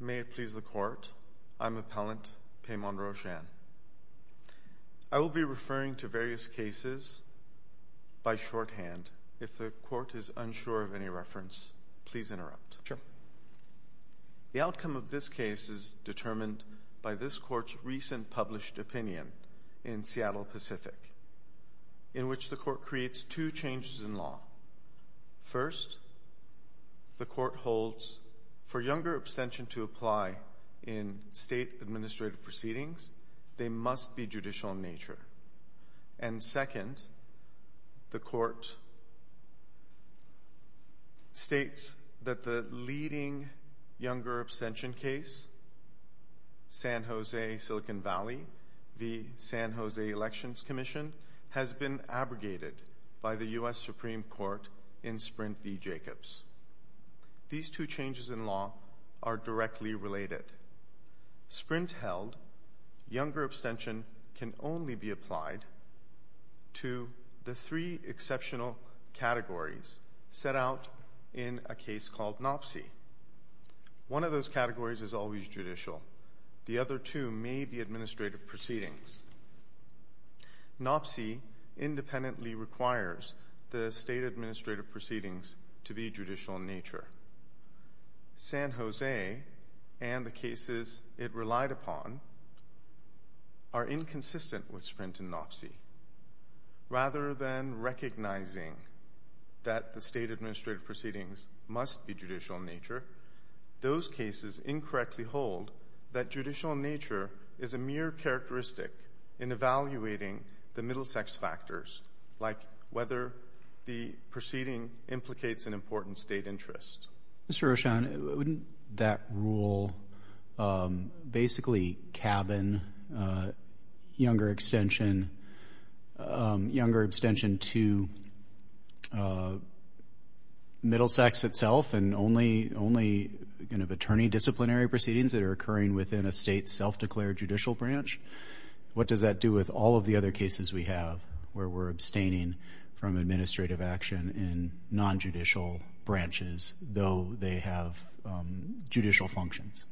May it please the Court, I'm Appellant Paimon Roshan. I will be referring to various cases by shorthand. If the Court is unsure of any reference, please interrupt. Sure. The outcome of this case is determined by this Court's recent published opinion in Seattle Pacific, in which the Court creates two changes in law. First, the Court holds for younger abstention to apply in State administrative proceedings. They must be judicial in nature. And second, the Court states that the leading younger abstention case, San Jose-Silicon Valley v. San Jose Elections Commission, has been abrogated by the U.S. Supreme Court in Sprint v. Jacobs. These two changes in law are directly related. Sprint-held younger abstention can only be applied to the three exceptional categories set out in a case called NOPC. One of those categories is always judicial. The other two may be administrative proceedings. NOPC independently requires the State administrative proceedings to be judicial in nature. San Jose and the cases it relied upon are inconsistent with Sprint and NOPC. Rather than recognizing that the State administrative proceedings must be judicial in nature, those cases incorrectly hold that judicial in nature is a mere characteristic in evaluating the middle sex factors, like whether the proceeding implicates an important State interest. Mr. Rochon, wouldn't that rule basically cabin younger abstention to middle sex itself and only kind of attorney disciplinary proceedings that are occurring within a State self-declared judicial branch? What does that do with all of the other cases we have where we're abstaining from administrative action in nonjudicial branches, though they have judicial functions?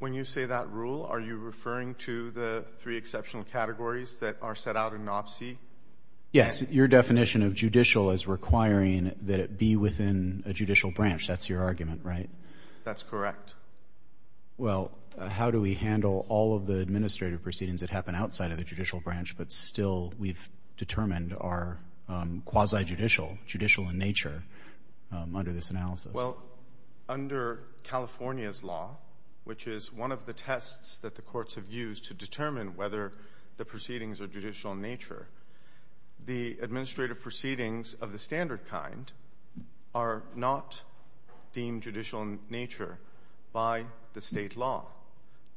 When you say that rule, are you referring to the three exceptional categories that are set out in NOPC? Yes. Your definition of judicial is requiring that it be within a judicial branch. That's your argument, right? That's correct. Well, how do we handle all of the administrative proceedings that happen outside of the judicial branch but still we've determined are quasi-judicial, judicial in nature, under this analysis? Well, under California's law, which is one of the tests that the courts have used to determine whether the proceedings are judicial in nature, the administrative proceedings of the standard kind are not deemed judicial in nature by the State law.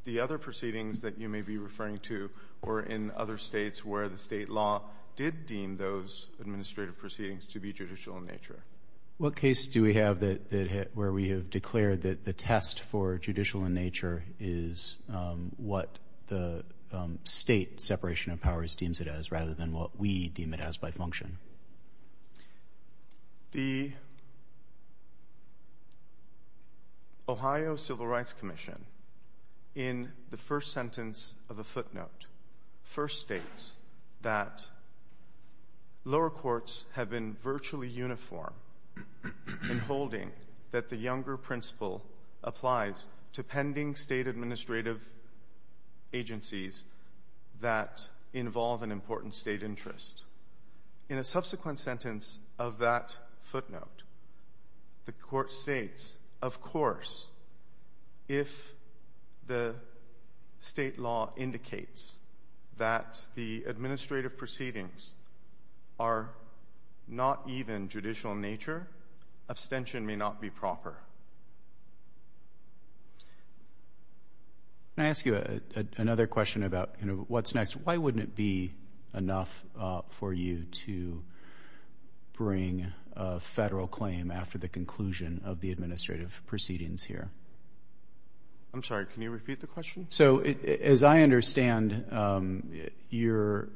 The other proceedings that you may be referring to were in other states where the State law did deem those administrative proceedings to be judicial in nature. What case do we have where we have declared that the test for judicial in nature is what the State separation of powers deems it as rather than what we deem it as by function? The Ohio Civil Rights Commission in the first sentence of a footnote first states that lower courts have been virtually uniform in holding that the Younger Principle applies to pending State administrative agencies that involve an important State interest. In a subsequent sentence of that footnote, the Court states, of course, if the State law indicates that the administrative proceedings are not even judicial in nature, abstention may not be proper. Can I ask you another question about what's next? Why wouldn't it be enough for you to bring a Federal claim after the conclusion of the administrative proceedings here? I'm sorry. Can you repeat the question? So as I understand your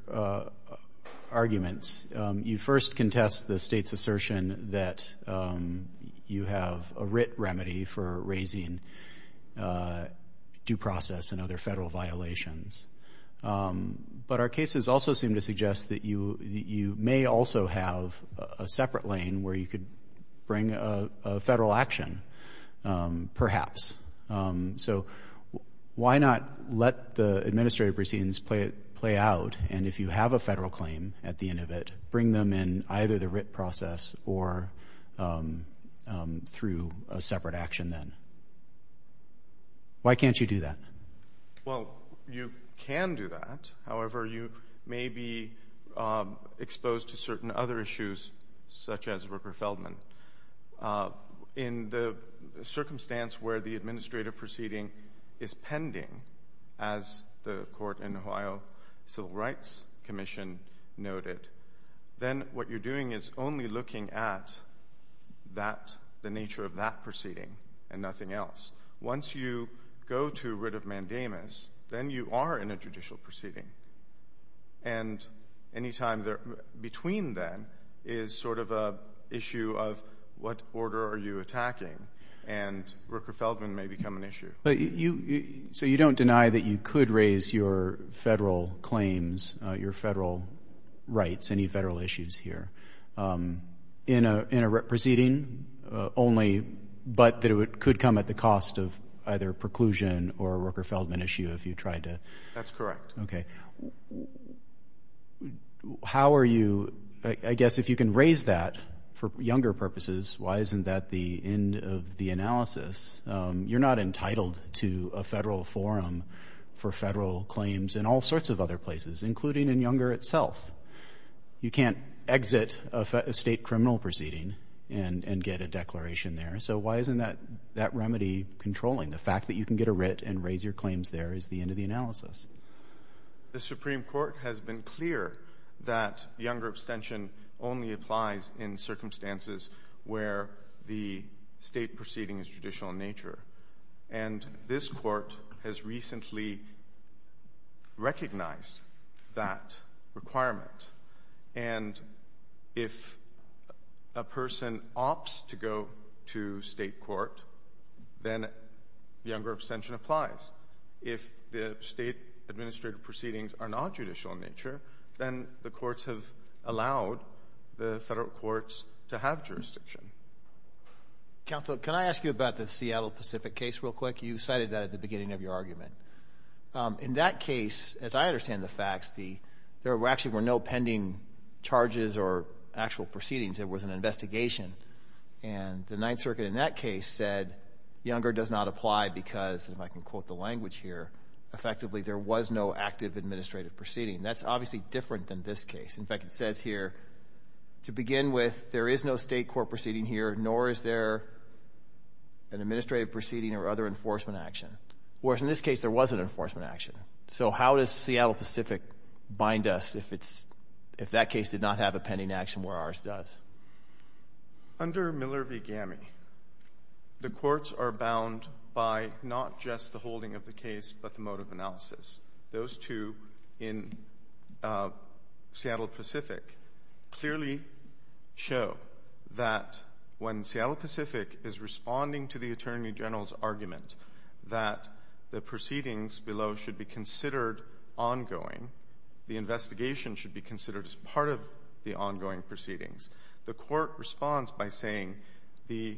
arguments, you first contest the State's assertion that you have a writ remedy for raising due process and other Federal violations. But our cases also seem to suggest that you may also have a separate lane where you could bring a Federal action, perhaps. So why not let the administrative proceedings play out, and if you have a Federal claim at the end of it, through a separate action then? Why can't you do that? Well, you can do that. However, you may be exposed to certain other issues, such as Rooker-Feldman. In the circumstance where the administrative proceeding is pending, as the Court in Ohio Civil Rights Commission noted, then what you're doing is only looking at the nature of that proceeding and nothing else. Once you go to writ of mandamus, then you are in a judicial proceeding. And any time between then is sort of an issue of what order are you attacking, and Rooker-Feldman may become an issue. So you don't deny that you could raise your Federal claims, your Federal rights, any Federal issues here in a proceeding only, but that it could come at the cost of either preclusion or a Rooker-Feldman issue if you tried to? That's correct. Okay. How are you, I guess if you can raise that for younger purposes, why isn't that the end of the analysis? You're not entitled to a Federal forum for Federal claims in all sorts of other places, including in Younger itself. You can't exit a State criminal proceeding and get a declaration there. So why isn't that remedy controlling? The fact that you can get a writ and raise your claims there is the end of the analysis. The Supreme Court has been clear that Younger abstention only applies in circumstances where the State proceeding is judicial in nature, and this Court has recently recognized that requirement. And if a person opts to go to State court, then Younger abstention applies. If the State administrative proceedings are not judicial in nature, then the courts have allowed the Federal courts to have jurisdiction. Counsel, can I ask you about the Seattle Pacific case real quick? You cited that at the beginning of your argument. In that case, as I understand the facts, there actually were no pending charges or actual proceedings. There was an investigation. And the Ninth Circuit in that case said Younger does not apply because, if I can quote the language here, effectively there was no active administrative proceeding. That's obviously different than this case. In fact, it says here, to begin with, there is no State court proceeding here, nor is there an administrative proceeding or other enforcement action, whereas in this case there was an enforcement action. So how does Seattle Pacific bind us if that case did not have a pending action where ours does? Under Miller v. Gammey, the courts are bound by not just the holding of the case but the mode of analysis. Those two in Seattle Pacific clearly show that when Seattle Pacific is responding to the Attorney General's argument that the proceedings below should be considered ongoing, the investigation should be considered as part of the ongoing proceedings, the court responds by saying the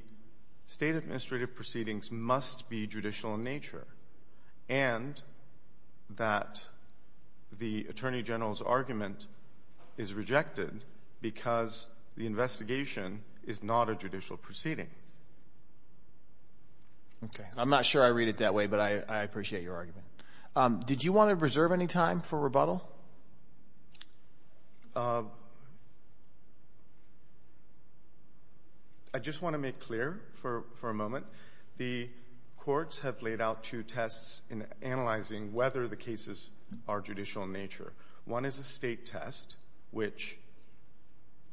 State administrative proceedings must be judicial in nature, and that the Attorney General's argument is rejected because the investigation is not a judicial proceeding. I'm not sure I read it that way, but I appreciate your argument. Did you want to reserve any time for rebuttal? I just want to make clear for a moment. The courts have laid out two tests in analyzing whether the cases are judicial in nature. One is a State test, which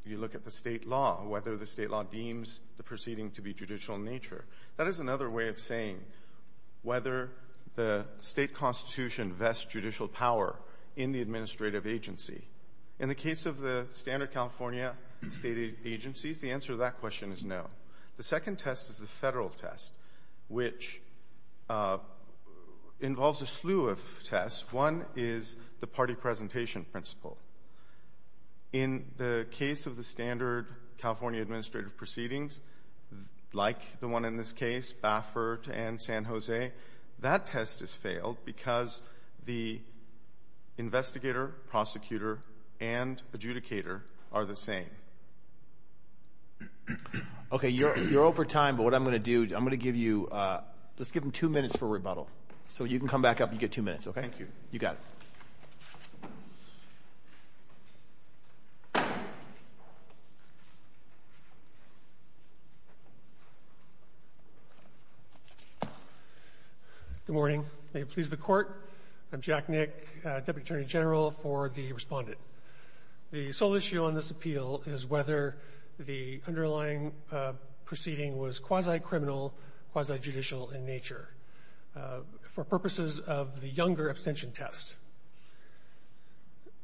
you look at the State law, whether the State law deems the proceeding to be judicial in nature. That is another way of saying whether the State constitution vests judicial power in the administrative agency. In the case of the standard California State agencies, the answer to that question is no. The second test is the federal test, which involves a slew of tests. One is the party presentation principle. In the case of the standard California administrative proceedings, like the one in this case, Baffert and San Jose, that test has failed because the investigator, prosecutor, and adjudicator are the same. Okay. Okay. You're over time, but what I'm going to do, I'm going to give you, let's give them two minutes for rebuttal. So you can come back up and get two minutes, okay? Thank you. You got it. Good morning. May it please the Court. I'm Jack Nick, Deputy Attorney General for the Respondent. The sole issue on this appeal is whether the underlying proceeding was quasi-criminal, quasi-judicial in nature for purposes of the younger abstention test.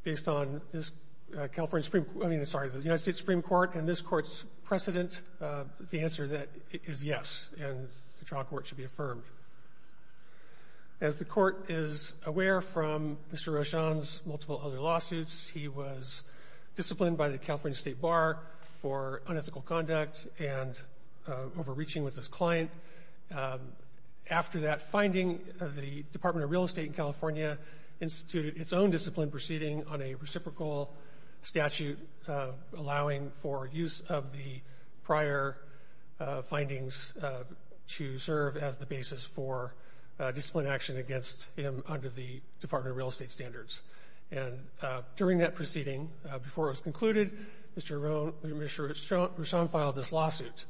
Based on this California Supreme Court, I mean, sorry, the United States Supreme Court and this Court's precedent, the answer is yes, and the trial court should be affirmed. As the Court is aware from Mr. Rochon's multiple other lawsuits, he was disciplined by the California State Bar for unethical conduct and overreaching with his client. After that finding, the Department of Real Estate in California instituted its own discipline proceeding on a reciprocal statute allowing for use of the prior findings to serve as the basis for discipline action against him under the Department of Real Estate standards. And during that proceeding, before it was concluded, Mr. Rochon filed this lawsuit.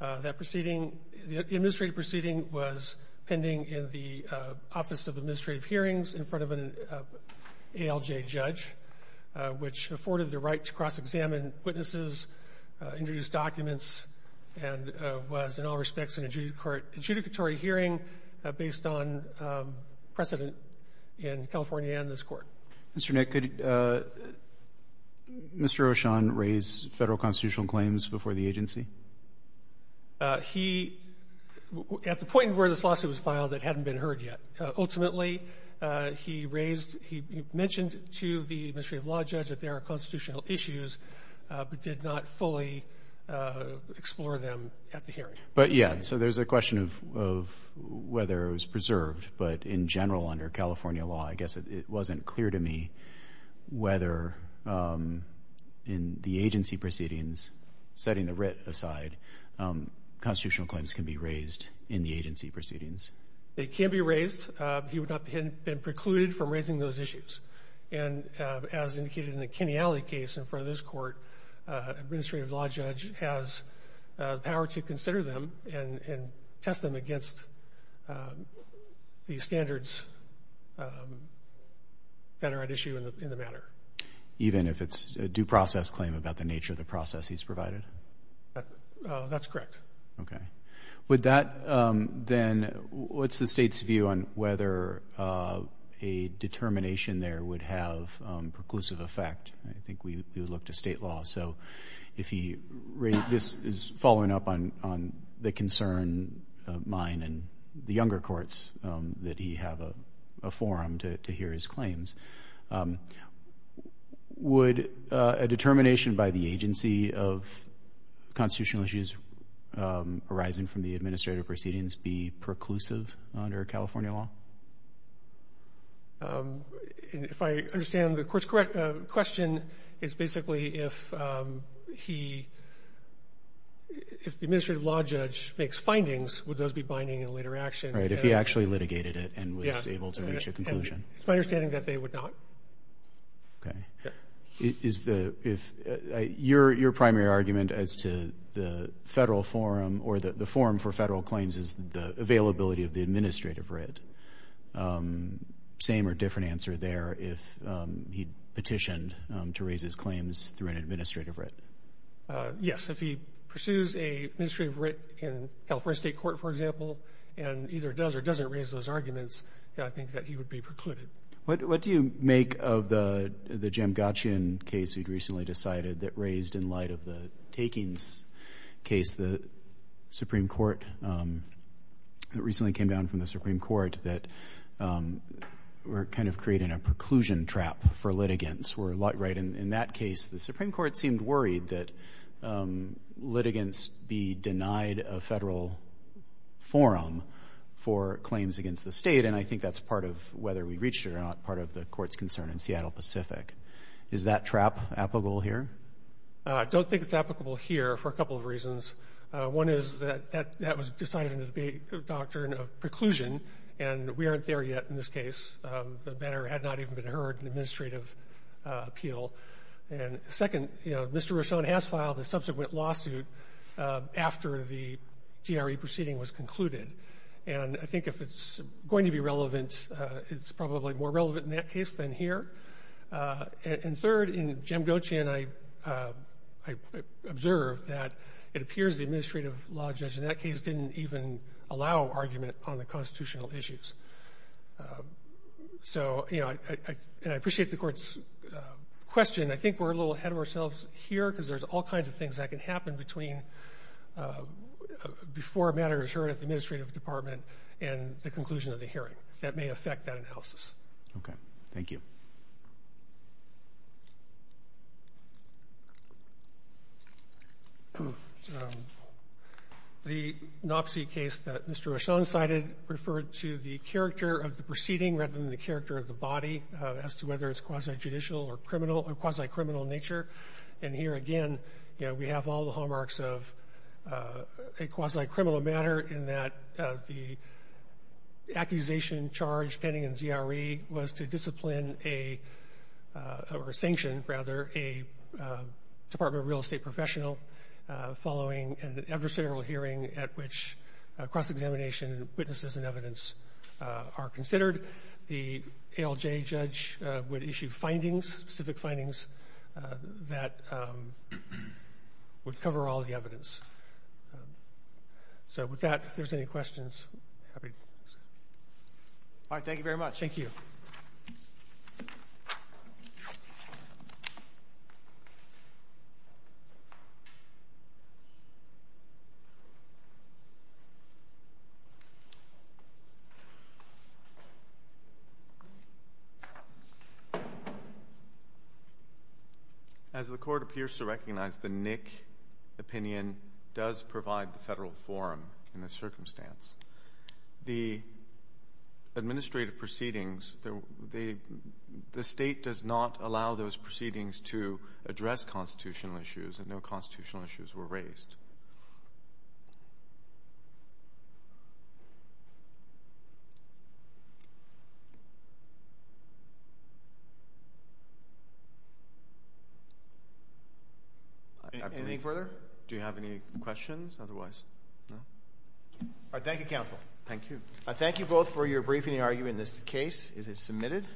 That proceeding, the administrative proceeding was pending in the Office of Administrative Hearings in front of an ALJ judge, which afforded the right to cross-examine witnesses, introduce documents, and was in all respects an adjudicatory hearing based on precedent in California and this Court. Mr. Nick, could Mr. Rochon raise Federal constitutional claims before the agency? He, at the point where this lawsuit was filed, it hadn't been heard yet. Ultimately, he raised, he mentioned to the administrative law judge that there are constitutional claims, but did not fully explore them at the hearing. But, yeah, so there's a question of whether it was preserved, but in general under California law, I guess it wasn't clear to me whether in the agency proceedings, setting the writ aside, constitutional claims can be raised in the agency proceedings. They can be raised. He would not have been precluded from raising those issues. And as indicated in the Kenneally case in front of this Court, administrative law judge has power to consider them and test them against the standards that are at issue in the matter. Even if it's a due process claim about the nature of the process he's provided? That's correct. Okay. Would that then, what's the State's view on whether a determination there would have preclusive effect? I think we would look to State law. So if he raised, this is following up on the concern of mine and the younger courts that he have a forum to hear his claims. Would a determination by the agency of constitutional issues arising from the administrative proceedings be preclusive under California law? If I understand the Court's question, it's basically if he, if the administrative law judge makes findings, would those be binding in later action? Right. If he actually litigated it and was able to reach a conclusion. It's my understanding that they would not. Yeah. Is the, if, your primary argument as to the federal forum or the forum for federal claims is the availability of the administrative writ, same or different answer there if he petitioned to raise his claims through an administrative writ? Yes. If he pursues a administrative writ in California State Court, for example, and either does or doesn't raise those arguments, I think that he would be precluded. What do you make of the Jim Gatchian case you'd recently decided that raised in light of the Takings case, the Supreme Court, that recently came down from the Supreme Court that were kind of creating a preclusion trap for litigants. Were like, right, in that case, the Supreme Court seemed worried that litigants be denied a federal forum for claims against the State. And I think that's part of whether we reached it or not part of the Court's concern in Seattle Pacific. Is that trap applicable here? I don't think it's applicable here for a couple of reasons. One is that that was decided under the doctrine of preclusion, and we aren't there yet in this case. The matter had not even been heard in administrative appeal. And second, you know, Mr. Rusone has filed a subsequent lawsuit after the GRE proceeding was concluded. And I think if it's going to be relevant, it's probably more relevant in that case than here. And third, in Jim Gatchian, I observed that it appears the administrative law judge in that case didn't even allow argument on the constitutional issues. So, you know, and I appreciate the Court's question. I think we're a little ahead of ourselves here because there's all kinds of things that can happen between before a matter is heard at the administrative department and the conclusion of the hearing that may affect that analysis. Thank you. The NOPC case that Mr. Rusone cited referred to the character of the proceeding rather than the character of the body as to whether it's quasi-judicial or criminal or quasi-criminal in nature. And here again, you know, we have all the hallmarks of a quasi-criminal matter in that the accusation charged pending in GRE was to discipline or sanction, rather, a Department of Real Estate professional following an adversarial hearing at which cross-examination, witnesses, and evidence are considered. The ALJ judge would issue findings, specific findings, that would cover all the evidence. So with that, if there's any questions. All right. Thank you very much. As the court appears to recognize, the NIC opinion does provide the federal forum in this circumstance. The administrative proceedings, the state does not allow those proceedings to address constitutional issues, and no constitutional issues were raised. Anything further? Do you have any questions? Otherwise, no. All right. Thank you, counsel. Thank you. I thank you both for your briefing and arguing this case. It is submitted.